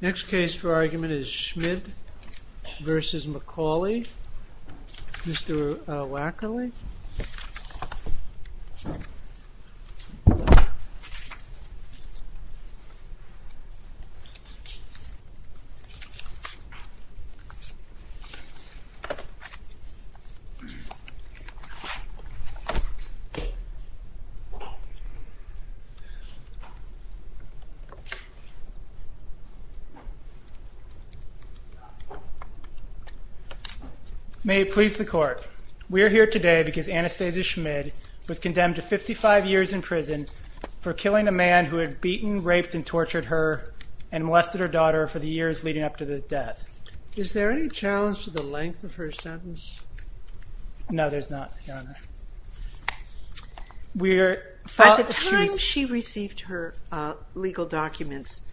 Next case for argument is Schmid v. McCauley, Mr. Wackerly. May it please the court, we are here today because Anastazia Schmid was condemned to 55 years in prison for killing a man who had beaten, raped, and tortured her and molested her daughter for the years leading up to the death. Is there any challenge to the length of her sentence? No there's not, Your Honor. At the time she received her legal documents,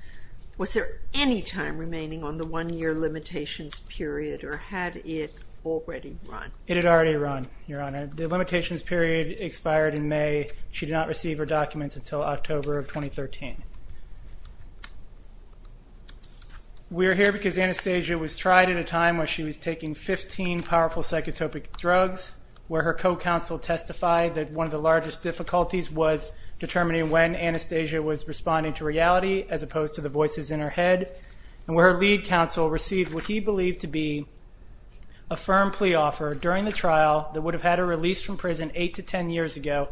was there any time remaining on the one year limitations period or had it already run? It had already run, Your Honor. The limitations period expired in May. She did not receive her documents until October of 2013. We're here because Anastazia was tried at a time when she was taking 15 powerful psychotropic drugs where her co-counsel testified that one of the largest difficulties was determining when Anastazia was responding to reality as opposed to the voices in her head. And where her lead counsel received what he believed to be a firm plea offer during the trial that would have had her released from prison 8 to 10 years ago,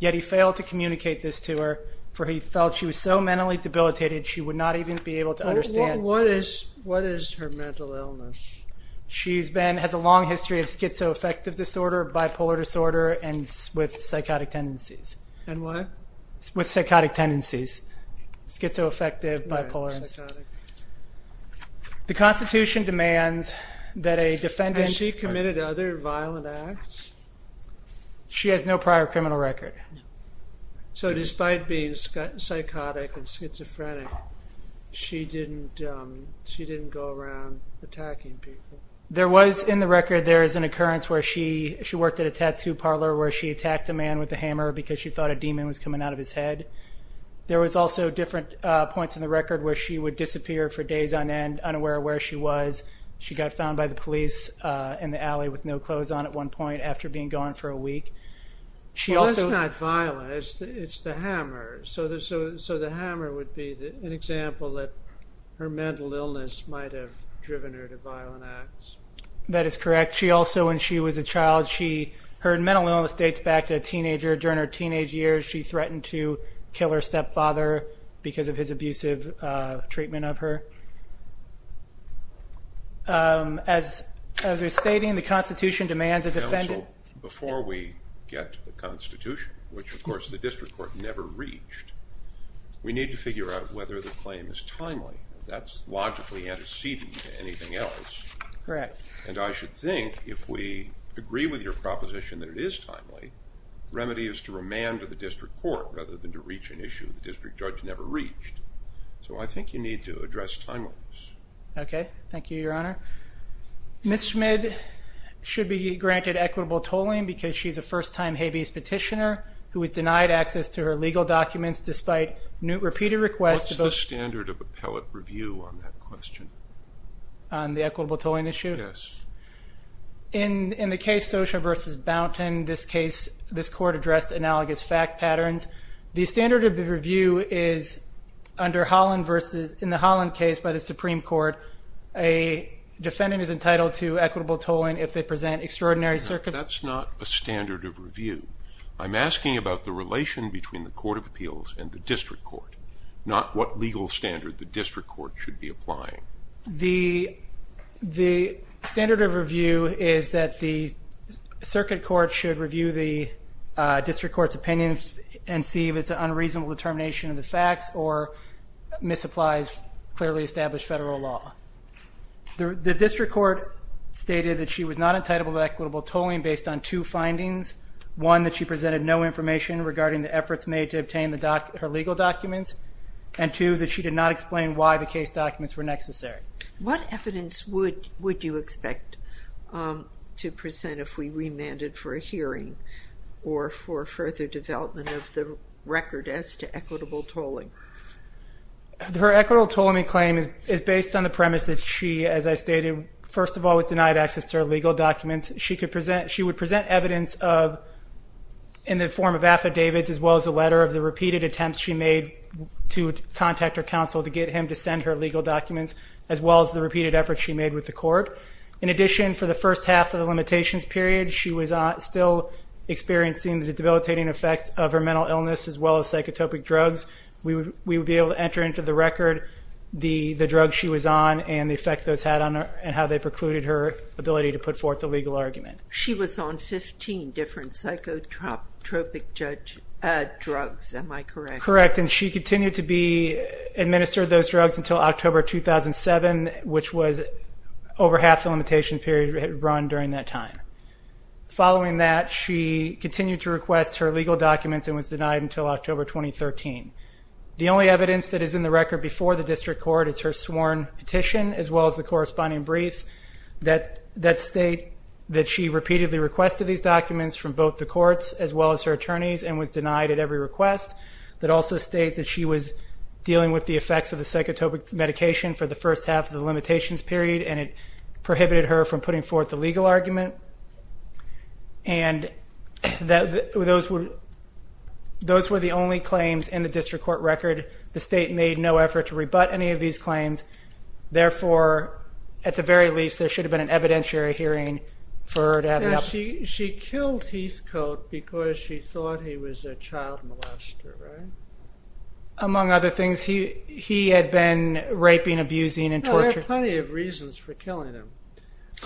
yet he failed to communicate this to her for he felt she was so mentally debilitated she would not even be able to understand. What is her mental illness? She has a long history of schizoaffective disorder, bipolar disorder, and with psychotic tendencies. And what? With psychotic tendencies, schizoaffective, bipolar. The Constitution demands that a defendant... Has she committed other violent acts? She has no prior criminal record. So, despite being psychotic and schizophrenic, she didn't go around attacking people? There was, in the record, there is an occurrence where she worked at a tattoo parlor where she attacked a man with a hammer because she thought a demon was coming out of his head. There was also different points in the record where she would disappear for days on end unaware of where she was. She got found by the police in the alley with no clothes on at one point after being gone for a week. That's not violent, it's the hammer, so the hammer would be an example that her mental illness might have driven her to violent acts. That is correct. She also, when she was a child, her mental illness dates back to a teenager. During her teenage years, she threatened to kill her stepfather because of his abusive treatment of her. As they're stating, the Constitution demands a defendant... Counsel, before we get to the Constitution, which of course the District Court never reached, we need to figure out whether the claim is timely. That's logically antecedent to anything else. Correct. And I should think if we agree with your proposition that it is timely, the remedy is to remand to the District Court rather than to reach an issue the District Judge never reached. So I think you need to address timeliness. Okay, thank you, Your Honor. Ms. Schmid should be granted equitable tolling because she's a first-time habeas petitioner who was denied access to her legal documents despite repeated requests... What's the standard of appellate review on that question? On the equitable tolling issue? Yes. In the case, Socher v. Bounton, this case, this court addressed analogous fact patterns. The standard of review is in the Holland case by the Supreme Court, a defendant is entitled to equitable tolling if they present extraordinary circumstances... That's not a standard of review. I'm asking about the relation between the Court of Appeals and the District Court, not what legal standard the District Court should be applying. The standard of review is that the Circuit Court should review the District Court's opinion and see if it's an unreasonable determination of the facts or misapplies clearly established federal law. The District Court stated that she was not entitled to equitable tolling based on two findings. One, that she presented no information regarding the efforts made to obtain her legal documents, and two, that she did not explain why the case documents were necessary. What evidence would you expect to present if we remanded for a hearing or for further development of the record as to equitable tolling? Her equitable tolling claim is based on the premise that she, as I stated, first of all was denied access to her legal documents. She would present evidence in the form of affidavits as well as a letter of the repeated counsel to get him to send her legal documents as well as the repeated efforts she made with the court. In addition, for the first half of the limitations period, she was still experiencing the debilitating effects of her mental illness as well as psychotropic drugs. We would be able to enter into the record the drugs she was on and the effect those had on her and how they precluded her ability to put forth the legal argument. She was on 15 different psychotropic drugs, am I correct? Correct, and she continued to administer those drugs until October 2007, which was over half the limitation period run during that time. Following that, she continued to request her legal documents and was denied until October 2013. The only evidence that is in the record before the district court is her sworn petition as well as the corresponding briefs that state that she repeatedly requested these documents from both the courts as well as her attorneys and was denied at every request, that also state that she was dealing with the effects of the psychotropic medication for the first half of the limitations period and it prohibited her from putting forth the legal argument. Those were the only claims in the district court record. The state made no effort to rebut any of these claims. Therefore, at the very least, there should have been an evidentiary hearing for her to have it up. She killed Heathcote because she thought he was a child molester, right? Among other things, he had been raping, abusing, and torturing. There are plenty of reasons for killing him,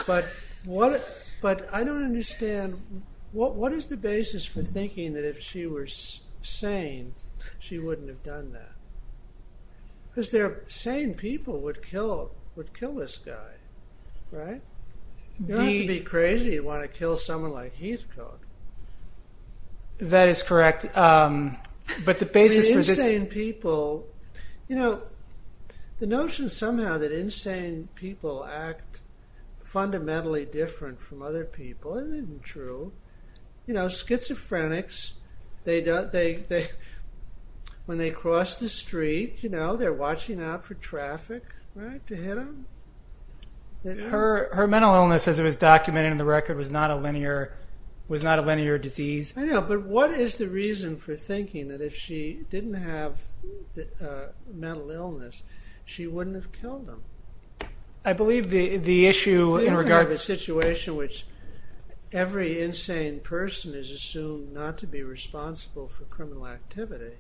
but I don't understand, what is the basis for thinking that if she were sane, she wouldn't have done that? Because sane people would kill this guy, right? You don't have to be crazy to want to kill someone like Heathcote. That is correct. But the basis for this... Insane people, you know, the notion somehow that insane people act fundamentally different from other people isn't true. You know, schizophrenics, when they cross the street, you know, they're watching out for traffic, right, to hit them. Her mental illness, as it was documented in the record, was not a linear disease. I know, but what is the reason for thinking that if she didn't have mental illness, she wouldn't have killed him? I believe the issue in regard to the situation in which every insane person is assumed not to be responsible for criminal activity.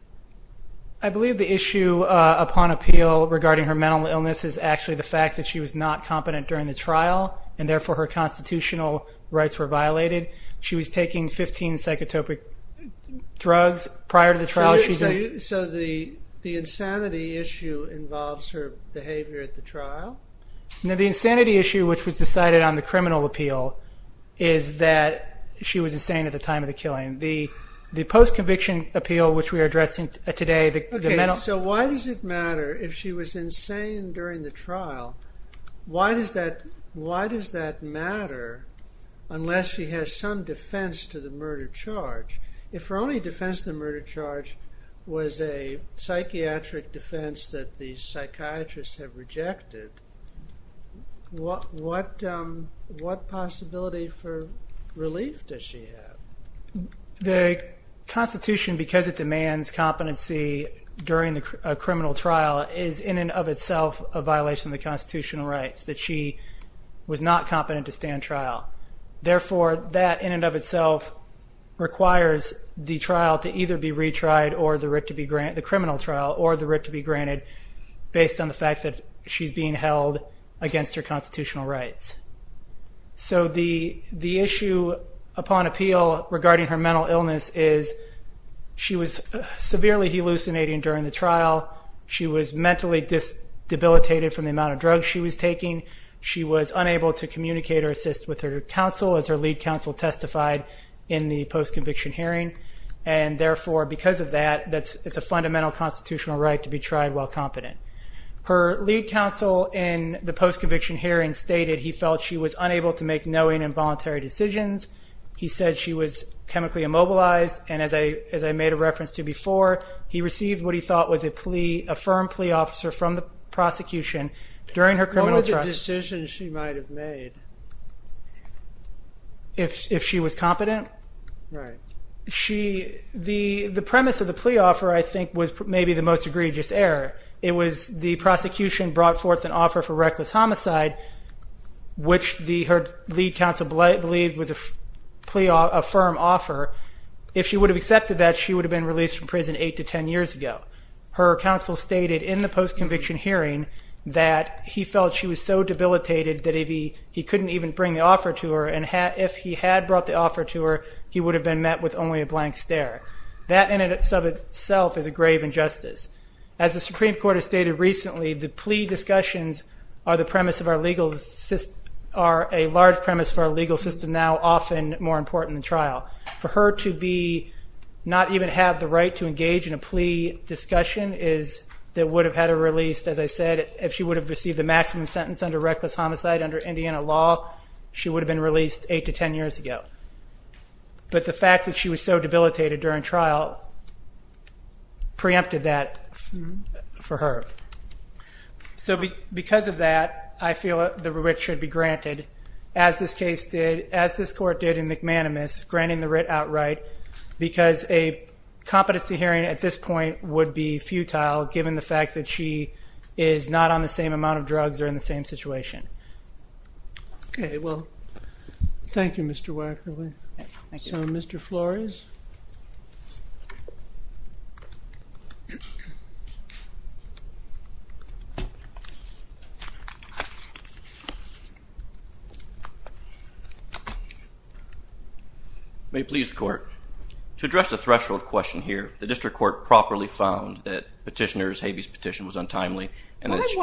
I believe the issue upon appeal regarding her mental illness is actually the fact that she was not competent during the trial, and therefore her constitutional rights were violated. She was taking 15 psychotropic drugs prior to the trial. So the insanity issue involves her behavior at the trial? No, the insanity issue, which was decided on the criminal appeal, is that she was insane at the time of the killing. The post-conviction appeal, which we are addressing today, the mental... Okay, so why does it matter if she was insane during the trial, why does that matter unless she has some defense to the murder charge? If her only defense to the murder charge was a psychiatric defense that the psychiatrists have rejected, what possibility for relief does she have? The Constitution, because it demands competency during a criminal trial, is in and of itself a violation of the constitutional rights, that she was not competent to stand trial. Therefore that in and of itself requires the trial to either be retried or the criminal trial or the writ to be granted based on the fact that she's being held against her constitutional rights. So the issue upon appeal regarding her mental illness is she was severely hallucinating during the trial. She was mentally debilitated from the amount of drugs she was taking. She was unable to communicate or assist with her counsel as her lead counsel testified in the post-conviction hearing. And therefore, because of that, it's a fundamental constitutional right to be tried while competent. Her lead counsel in the post-conviction hearing stated he felt she was unable to make knowing and voluntary decisions. He said she was chemically immobilized, and as I made a reference to before, he received what he thought was a firm plea officer from the prosecution during her criminal trial. What were the decisions she might have made? If she was competent. The premise of the plea offer, I think, was maybe the most egregious error. It was the prosecution brought forth an offer for reckless homicide, which her lead counsel believed was a firm offer. If she would have accepted that, she would have been released from prison eight to ten years ago. Her counsel stated in the post-conviction hearing that he felt she was so debilitated that he couldn't even bring the offer to her, and if he had brought the offer to her, he would have been met with only a blank stare. That in itself is a grave injustice. As the Supreme Court has stated recently, the plea discussions are a large premise for our legal system now, often more important than trial. For her to not even have the right to engage in a plea discussion is that would have had her released, as I said, if she would have received the maximum sentence under reckless homicide under Indiana law, she would have been released eight to ten years ago. But the fact that she was so debilitated during trial preempted that for her. So because of that, I feel that the writ should be granted, as this case did, as this Court did in McManamus, granting the writ outright, because a competency hearing at this point would be futile, given the fact that she is not on the same amount of drugs or in the same situation. Okay. Well, thank you, Mr. Wackerle. Thank you. So, Mr. Flores? May it please the Court. To address the threshold question here, the District Court properly found that Petitioner's Habeas Petition was untimely and that she...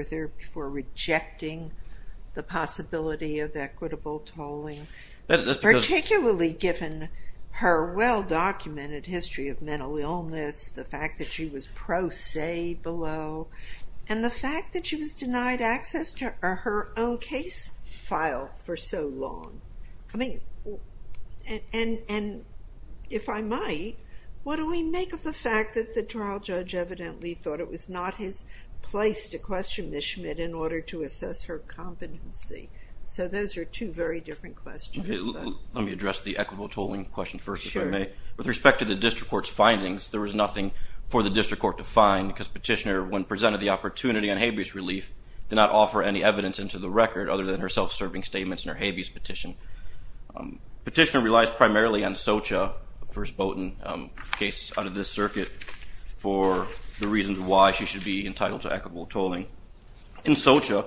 further before rejecting the possibility of equitable tolling, particularly given her well-documented history of mental illness, the fact that she was pro se below, and the fact that she was denied access to her own case file for so long. I mean, and if I might, what do we make of the fact that the trial judge evidently thought it was not his place to question Ms. Schmidt in order to assess her competency? So those are two very different questions, but... Okay. Let me address the equitable tolling question first, if I may. Sure. With respect to the District Court's findings, there was nothing for the District Court to find because Petitioner, when presented the opportunity on Habeas relief, did not offer any evidence into the record other than her self-serving statements in her Habeas Petition. Petitioner relies primarily on Socha, the first Bowdoin case out of this circuit, for the reasons why she should be entitled to equitable tolling. In Socha,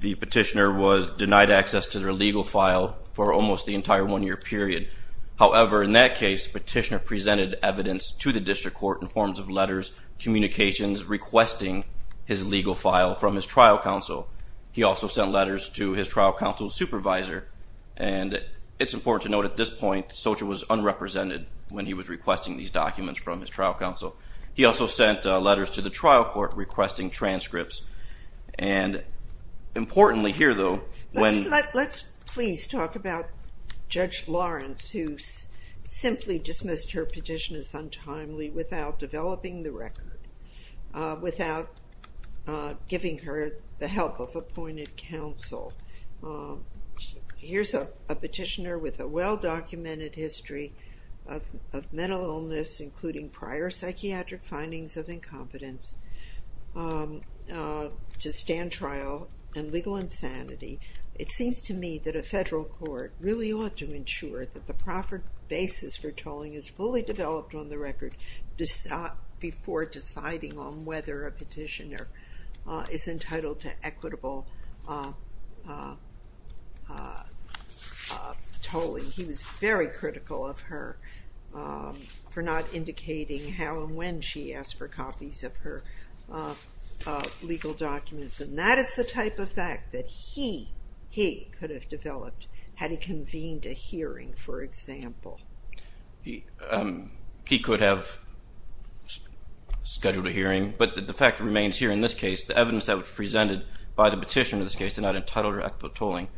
the Petitioner was denied access to her legal file for almost the entire one year period. However, in that case, Petitioner presented evidence to the District Court in forms of letters, communications, requesting his legal file from his trial counsel. He also sent letters to his trial counsel's supervisor, and it's important to note at this point, Socha was unrepresented when he was requesting these documents from his trial counsel. He also sent letters to the trial court requesting transcripts, and importantly here, though, when... Let's please talk about Judge Lawrence, who simply dismissed her petition as untimely without developing the record, without giving her the help of appointed counsel. Here's a Petitioner with a well-documented history of mental illness, including prior psychiatric findings of incompetence to stand trial and legal insanity. It seems to me that a federal court really ought to ensure that the proper basis for tolling is fully developed on the record before deciding on whether a Petitioner is entitled to equitable tolling. He was very critical of her for not indicating how and when she asked for copies of her legal documents, and that is the type of fact that he could have developed had he convened a hearing, for example. He could have scheduled a hearing, but the fact remains here in this case, the evidence that was presented by the Petitioner in this case did not entitle her to equitable tolling.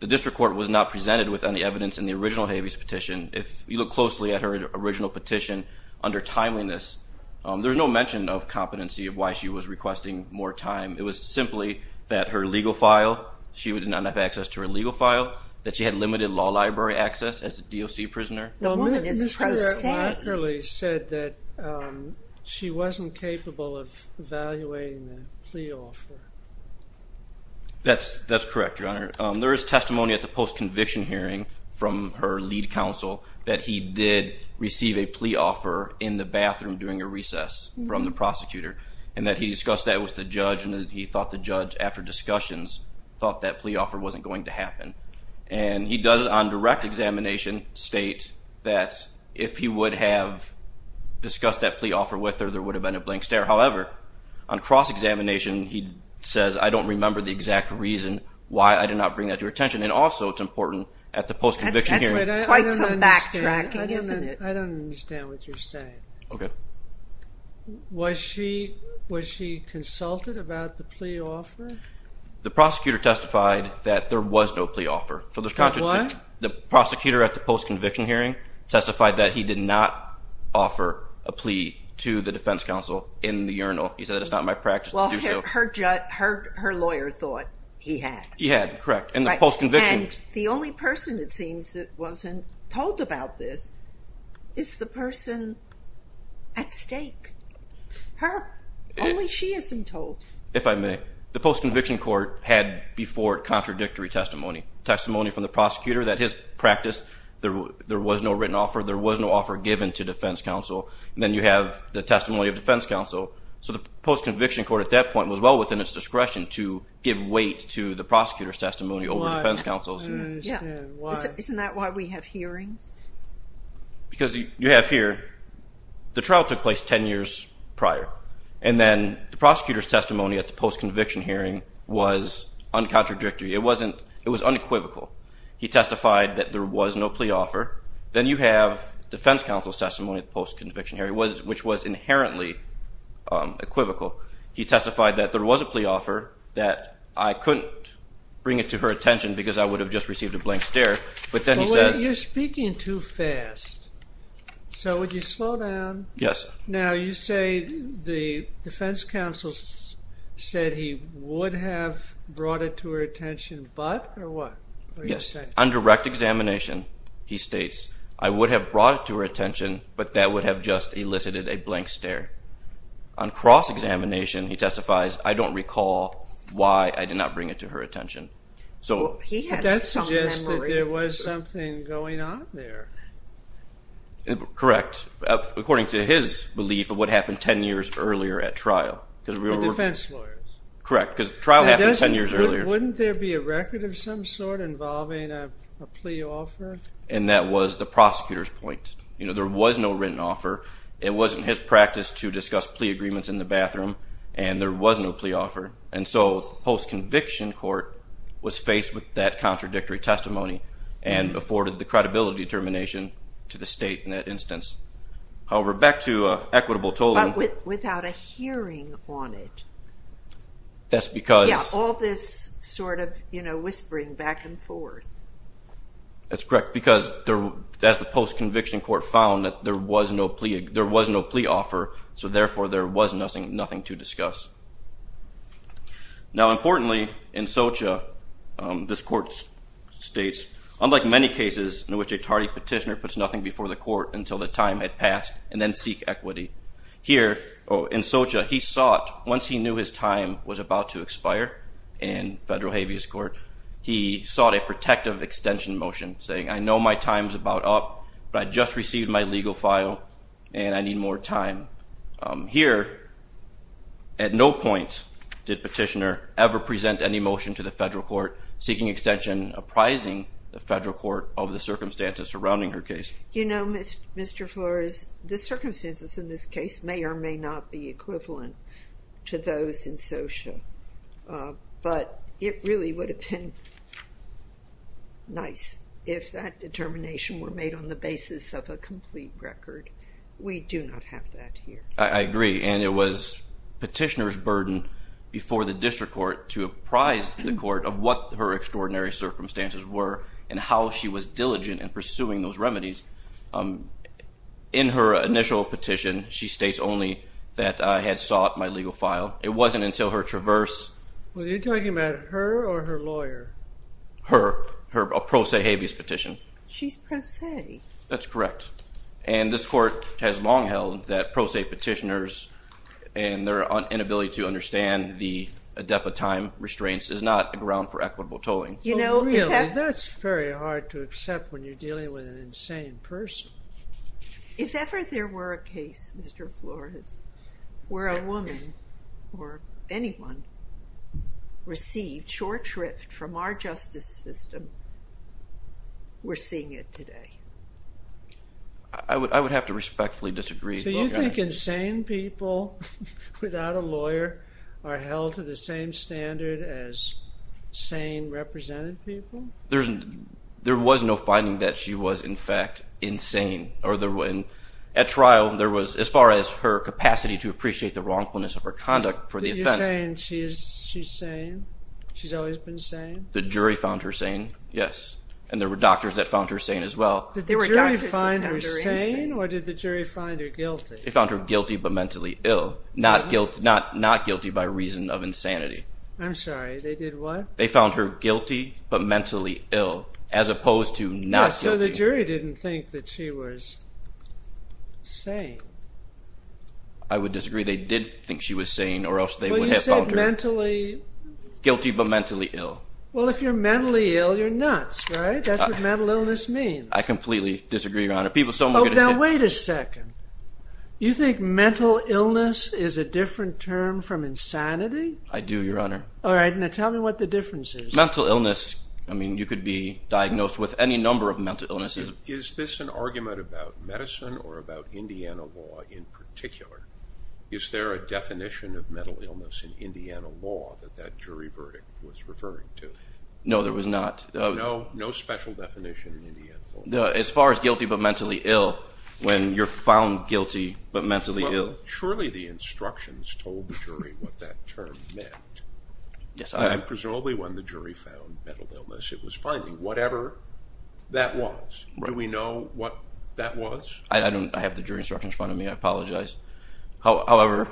The district court was not presented with any evidence in the original Habeas Petition. If you look closely at her original petition, under timeliness, there's no mention of competency of why she was requesting more time. It was simply that her legal file, she would not have access to her legal file, that she had limited law library access as a DOC prisoner. The woman is a prosecutor. Well, Mr. Markerly said that she wasn't capable of evaluating the plea offer. That's correct, Your Honor. There is testimony at the post-conviction hearing from her lead counsel that he did receive a plea offer in the bathroom during a recess from the prosecutor, and that he discussed that with the judge, and he thought the judge, after discussions, thought that plea offer wasn't going to happen. And he does, on direct examination, state that if he would have discussed that plea offer with her, there would have been a blank stare. However, on cross-examination, he says, I don't remember the exact reason why I did not bring that to your attention. And also, it's important, at the post-conviction hearing... That's quite some backtracking, isn't it? I don't understand what you're saying. Was she consulted about the plea offer? The prosecutor testified that there was no plea offer. For what? The prosecutor at the post-conviction hearing testified that he did not offer a plea to the defense counsel in the urinal. He said, it's not my practice to do so. Well, her lawyer thought he had. He had, correct. And the post-conviction... And the only person, it seems, that wasn't told about this is the person at stake. Only she isn't told. If I may. The post-conviction court had before contradictory testimony. Testimony from the prosecutor that his practice, there was no written offer, there was no offer given to defense counsel. Then you have the testimony of defense counsel. So the post-conviction court, at that point, was well within its discretion to give weight to the prosecutor's testimony over defense counsel's. I don't understand. Why? Isn't that why we have hearings? Because you have here, the trial took place 10 years prior. And then the prosecutor's testimony at the post-conviction hearing was uncontradictory. It wasn't, it was unequivocal. He testified that there was no plea offer. Then you have defense counsel's testimony at the post-conviction hearing, which was inherently equivocal. He testified that there was a plea offer, that I couldn't bring it to her attention because I would have just received a blank stare, but then he says... You're speaking too fast. So would you slow down? Yes. Now, you say the defense counsel said he would have brought it to her attention, but, or what? Yes. On direct examination, he states, I would have brought it to her attention, but that would have just elicited a blank stare. On cross-examination, he testifies, I don't recall why I did not bring it to her attention. So that suggests that there was something going on there. Correct. According to his belief of what happened 10 years earlier at trial. The defense lawyers. Correct. Because the trial happened 10 years earlier. Wouldn't there be a record of some sort involving a plea offer? And that was the prosecutor's point. There was no written offer. It wasn't his practice to discuss plea agreements in the bathroom, and there was no plea offer. And so post-conviction court was faced with that contradictory testimony and afforded the credibility determination to the state in that instance. However, back to equitable tolling. Without a hearing on it. That's because. Yeah. All this sort of, you know, whispering back and forth. That's correct. Because as the post-conviction court found that there was no plea offer, so therefore there was nothing to discuss. Now, importantly, in Socha, this court states, unlike many cases in which a tardy petitioner puts nothing before the court until the time had passed and then seek equity. Here in Socha, he sought, once he knew his time was about to expire in federal habeas court, he sought a protective extension motion saying, I know my time's about up, but I just received my legal file and I need more time. Here, at no point did petitioner ever present any motion to the federal court seeking extension apprising the federal court of the circumstances surrounding her case. You know, Mr. Flores, the circumstances in this case may or may not be equivalent to those in Socha, but it really would have been nice if that determination were made on the basis of a complete record. We do not have that here. I agree. And it was petitioner's burden before the district court to apprise the court of what her extraordinary circumstances were and how she was diligent in pursuing those remedies. In her initial petition, she states only that I had sought my legal file. It wasn't until her traverse. Were you talking about her or her lawyer? Her. Her pro se habeas petition. She's pro se. That's correct. And this court has long held that pro se petitioners and their inability to understand the depth of time restraints is not a ground for equitable tolling. You know, that's very hard to accept when you're dealing with an insane person. If ever there were a case, Mr. Flores, where a woman or anyone received short shrift from our justice system, we're seeing it today. I would have to respectfully disagree. So you think insane people without a lawyer are held to the same standard as sane represented people? There was no finding that she was in fact insane. At trial, there was, as far as her capacity to appreciate the wrongfulness of her conduct for the offense. She's sane. She is. She's sane. She's always been sane. The jury found her sane. Yes. And there were doctors that found her sane as well. Did the jury find her sane or did the jury find her guilty? They found her guilty but mentally ill, not guilty by reason of insanity. I'm sorry. They did what? They found her guilty but mentally ill as opposed to not guilty. So the jury didn't think that she was sane. I would disagree. Maybe they did think she was sane or else they would have found her guilty but mentally ill. Well, if you're mentally ill, you're nuts, right? That's what mental illness means. I completely disagree, Your Honor. People so much. Now wait a second. You think mental illness is a different term from insanity? I do, Your Honor. All right. Now tell me what the difference is. Mental illness. I mean, you could be diagnosed with any number of mental illnesses. Is this an argument about medicine or about Indiana law in particular? Is there a definition of mental illness in Indiana law that that jury verdict was referring to? No, there was not. No? No special definition in Indiana law? As far as guilty but mentally ill, when you're found guilty but mentally ill. Well, surely the instructions told the jury what that term meant. Yes. And presumably when the jury found mental illness, it was finding whatever that was. Do we know what that was? I don't. I have the jury instructions in front of me. I apologize. However,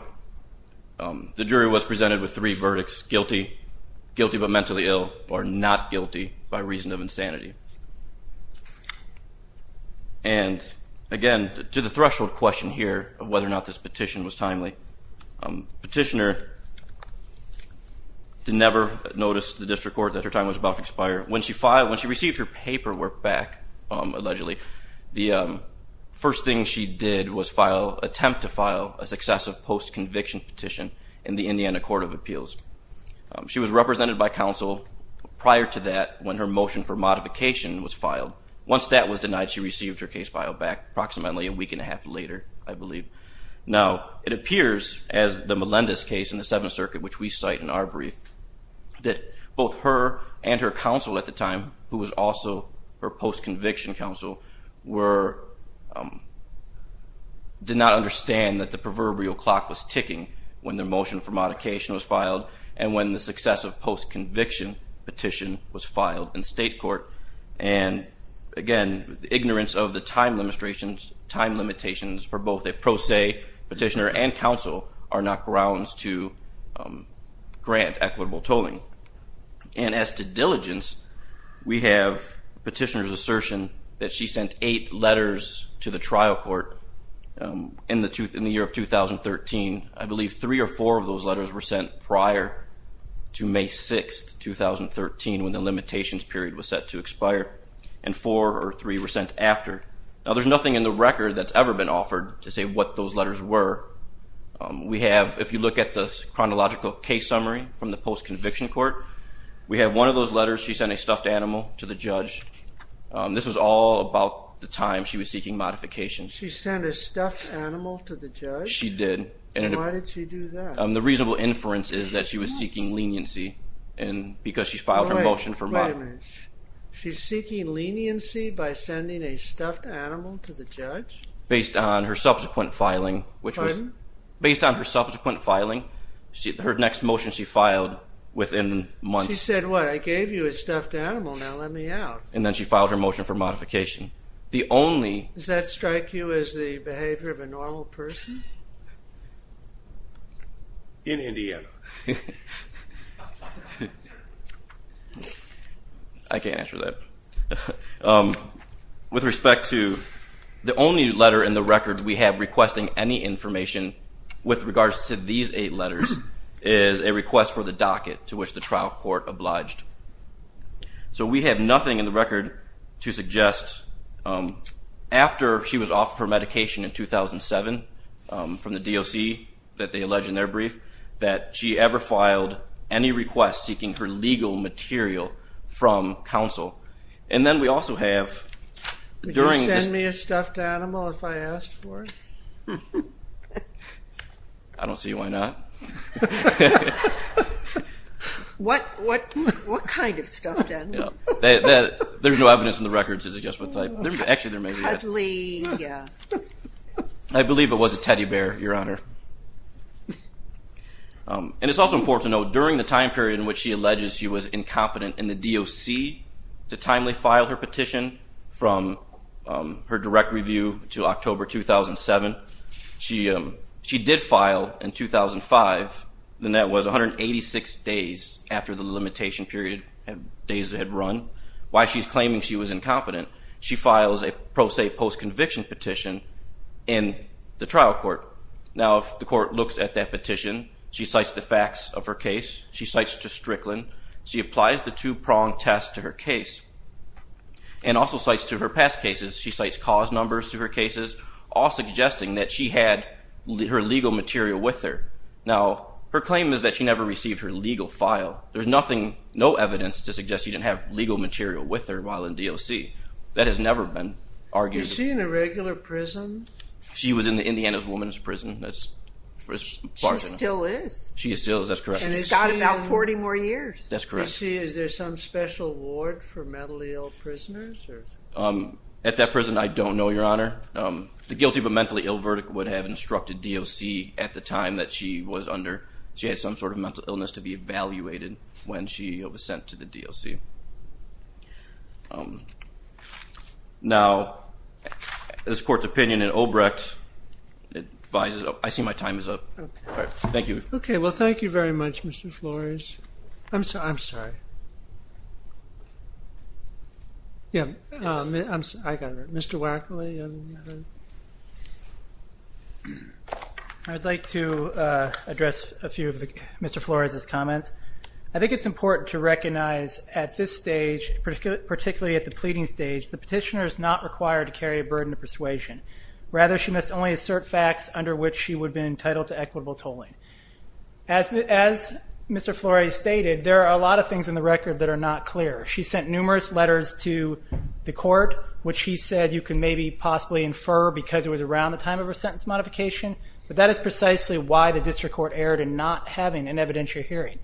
the jury was presented with three verdicts, guilty, guilty but mentally ill, or not guilty by reason of insanity. And again, to the threshold question here of whether or not this petition was timely, petitioner did never notice the district court that her time was about to expire. When she filed, when she received her paperwork back, allegedly, the first thing she did was attempt to file a successive post-conviction petition in the Indiana Court of Appeals. She was represented by counsel prior to that when her motion for modification was filed. Once that was denied, she received her case filed back approximately a week and a half later, I believe. Now, it appears as the Melendez case in the Seventh Circuit, which we cite in our brief, that both her and her counsel at the time, who was also her post-conviction counsel, did not understand that the proverbial clock was ticking when their motion for modification was filed and when the successive post-conviction petition was filed in state court. And again, the ignorance of the time limitations for both a pro se petitioner and counsel are not grounds to grant equitable tolling. And as to diligence, we have petitioner's assertion that she sent eight letters to the trial court in the year of 2013. I believe three or four of those letters were sent prior to May 6th, 2013, when the limitations period was set to expire. And four or three were sent after. Now, there's nothing in the record that's ever been offered to say what those letters were. We have, if you look at the chronological case summary from the post-conviction court, we have one of those letters, she sent a stuffed animal to the judge. This was all about the time she was seeking modification. She sent a stuffed animal to the judge? She did. And why did she do that? The reasonable inference is that she was seeking leniency because she filed her motion for modification. Wait a minute. She's seeking leniency by sending a stuffed animal to the judge? Based on her subsequent filing, which was... Pardon? Based on her subsequent filing, her next motion she filed within months... She said what? I gave you a stuffed animal, now let me out. And then she filed her motion for modification. The only... Does that strike you as the behavior of a normal person? In Indiana. I can't answer that. With respect to the only letter in the record we have requesting any information with regards to these eight letters is a request for the docket to which the trial court obliged. So we have nothing in the record to suggest after she was offered her medication in 2007 from the DOC that they allege in their brief that she ever filed any request seeking her And then we also have... Would you send me a stuffed animal if I asked for it? I don't see why not. What kind of stuffed animal? There's no evidence in the record to suggest what type. Actually there may be. Cuddly. Yeah. I believe it was a teddy bear, your honor. And it's also important to note during the time period in which she alleges she was incompetent in the DOC to timely file her petition from her direct review to October 2007. She did file in 2005 and that was 186 days after the limitation period days had run. Why she's claiming she was incompetent. She files a pro se post conviction petition in the trial court. Now if the court looks at that petition, she cites the facts of her case. She cites Strickland. She applies the two prong test to her case. And also cites to her past cases. She cites cause numbers to her cases, all suggesting that she had her legal material with her. Now her claim is that she never received her legal file. There's nothing, no evidence to suggest she didn't have legal material with her while in DOC. That has never been argued. Was she in a regular prison? She was in the Indiana's woman's prison. She still is. She still is. That's correct. And it's got about 40 more years. That's correct. Is there some special ward for mentally ill prisoners? At that prison I don't know, your honor. The guilty but mentally ill verdict would have instructed DOC at the time that she was under. She had some sort of mental illness to be evaluated when she was sent to the DOC. Now this court's opinion in Obrecht, I see my time is up. Thank you. Okay. Well thank you very much, Mr. Flores. I'm sorry. Yeah. I got it. Mr. Wackley. I would like to address a few of Mr. Flores' comments. I think it's important to recognize at this stage, particularly at the pleading stage, the petitioner is not required to carry a burden of persuasion. Rather, she must only assert facts under which she would be entitled to equitable tolling. As Mr. Flores stated, there are a lot of things in the record that are not clear. She sent numerous letters to the court, which she said you can maybe possibly infer because it was around the time of her sentence modification, but that is precisely why the district court erred in not having an evidentiary hearing.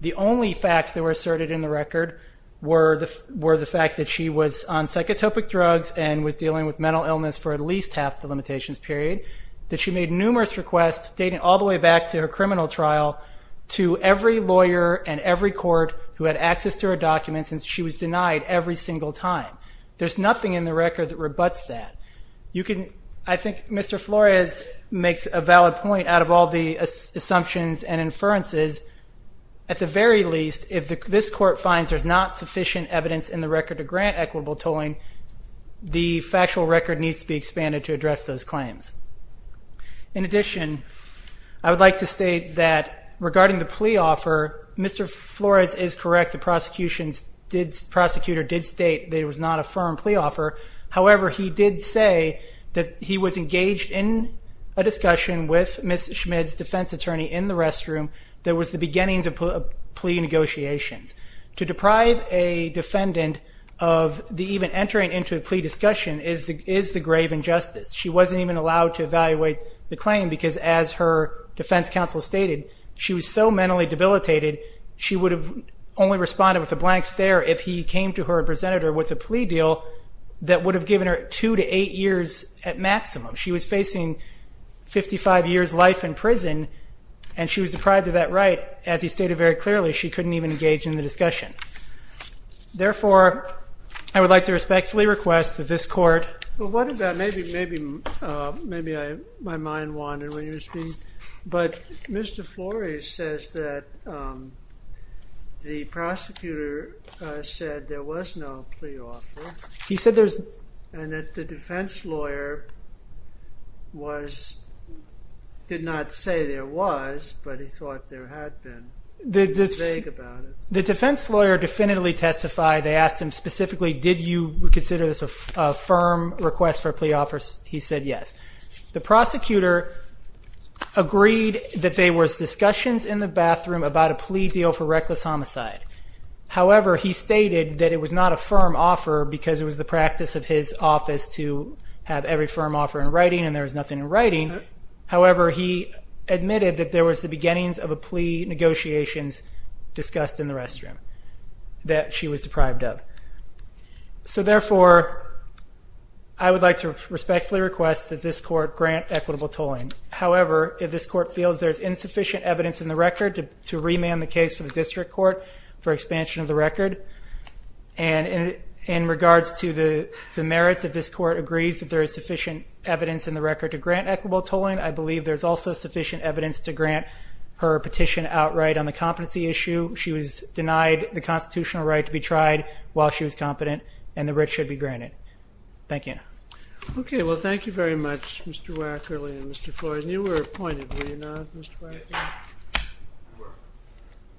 The only facts that were asserted in the record were the fact that she was on psychotropic drugs and was dealing with mental illness for at least half the limitations period, that she made numerous requests dating all the way back to her criminal trial to every lawyer and every court who had access to her documents, and she was denied every single time. There's nothing in the record that rebutts that. I think Mr. Flores makes a valid point out of all the assumptions and inferences. At the very least, if this court finds there's not sufficient evidence in the record to grant equitable tolling, the factual record needs to be expanded to address those claims. In addition, I would like to state that regarding the plea offer, Mr. Flores is correct. The prosecutor did state that it was not a firm plea offer. However, he did say that he was engaged in a discussion with Ms. Schmid's defense attorney in the restroom that was the beginnings of plea negotiations. To deprive a defendant of even entering into a plea discussion is the grave injustice. She wasn't even allowed to evaluate the claim because, as her defense counsel stated, she was so mentally debilitated she would have only responded with a blank stare if he came to her and presented her with a plea deal that would have given her two to eight years at maximum. She was facing 55 years life in prison, and she was deprived of that right, as he stated very clearly. She couldn't even engage in the discussion. Therefore, I would like to respectfully request that this court- Well, what about- maybe my mind wandered when you were speaking. But Mr. Flores says that the prosecutor said there was no plea offer. He said there's- And that the defense lawyer did not say there was, but he thought there had been. He was vague about it. The defense lawyer definitively testified. They asked him specifically, did you consider this a firm request for a plea offer? He said yes. The prosecutor agreed that there was discussions in the bathroom about a plea deal for reckless homicide. However, he stated that it was not a firm offer because it was the practice of his office to have every firm offer in writing, and there was nothing in writing. However, he admitted that there was the beginnings of a plea negotiations discussed in the restroom that she was deprived of. So therefore, I would like to respectfully request that this court grant equitable tolling. However, if this court feels there's insufficient evidence in the record to remand the case for the district court for expansion of the record, and in regards to the merits of this equitable tolling, I believe there's also sufficient evidence to grant her petition outright on the competency issue. She was denied the constitutional right to be tried while she was competent, and the writ should be granted. Thank you. Okay. Well, thank you very much, Mr. Wackerly and Mr. Floyd. And you were appointed, were you not, Mr. Wackerly?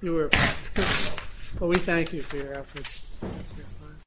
You were appointed. Well, we thank you for your efforts.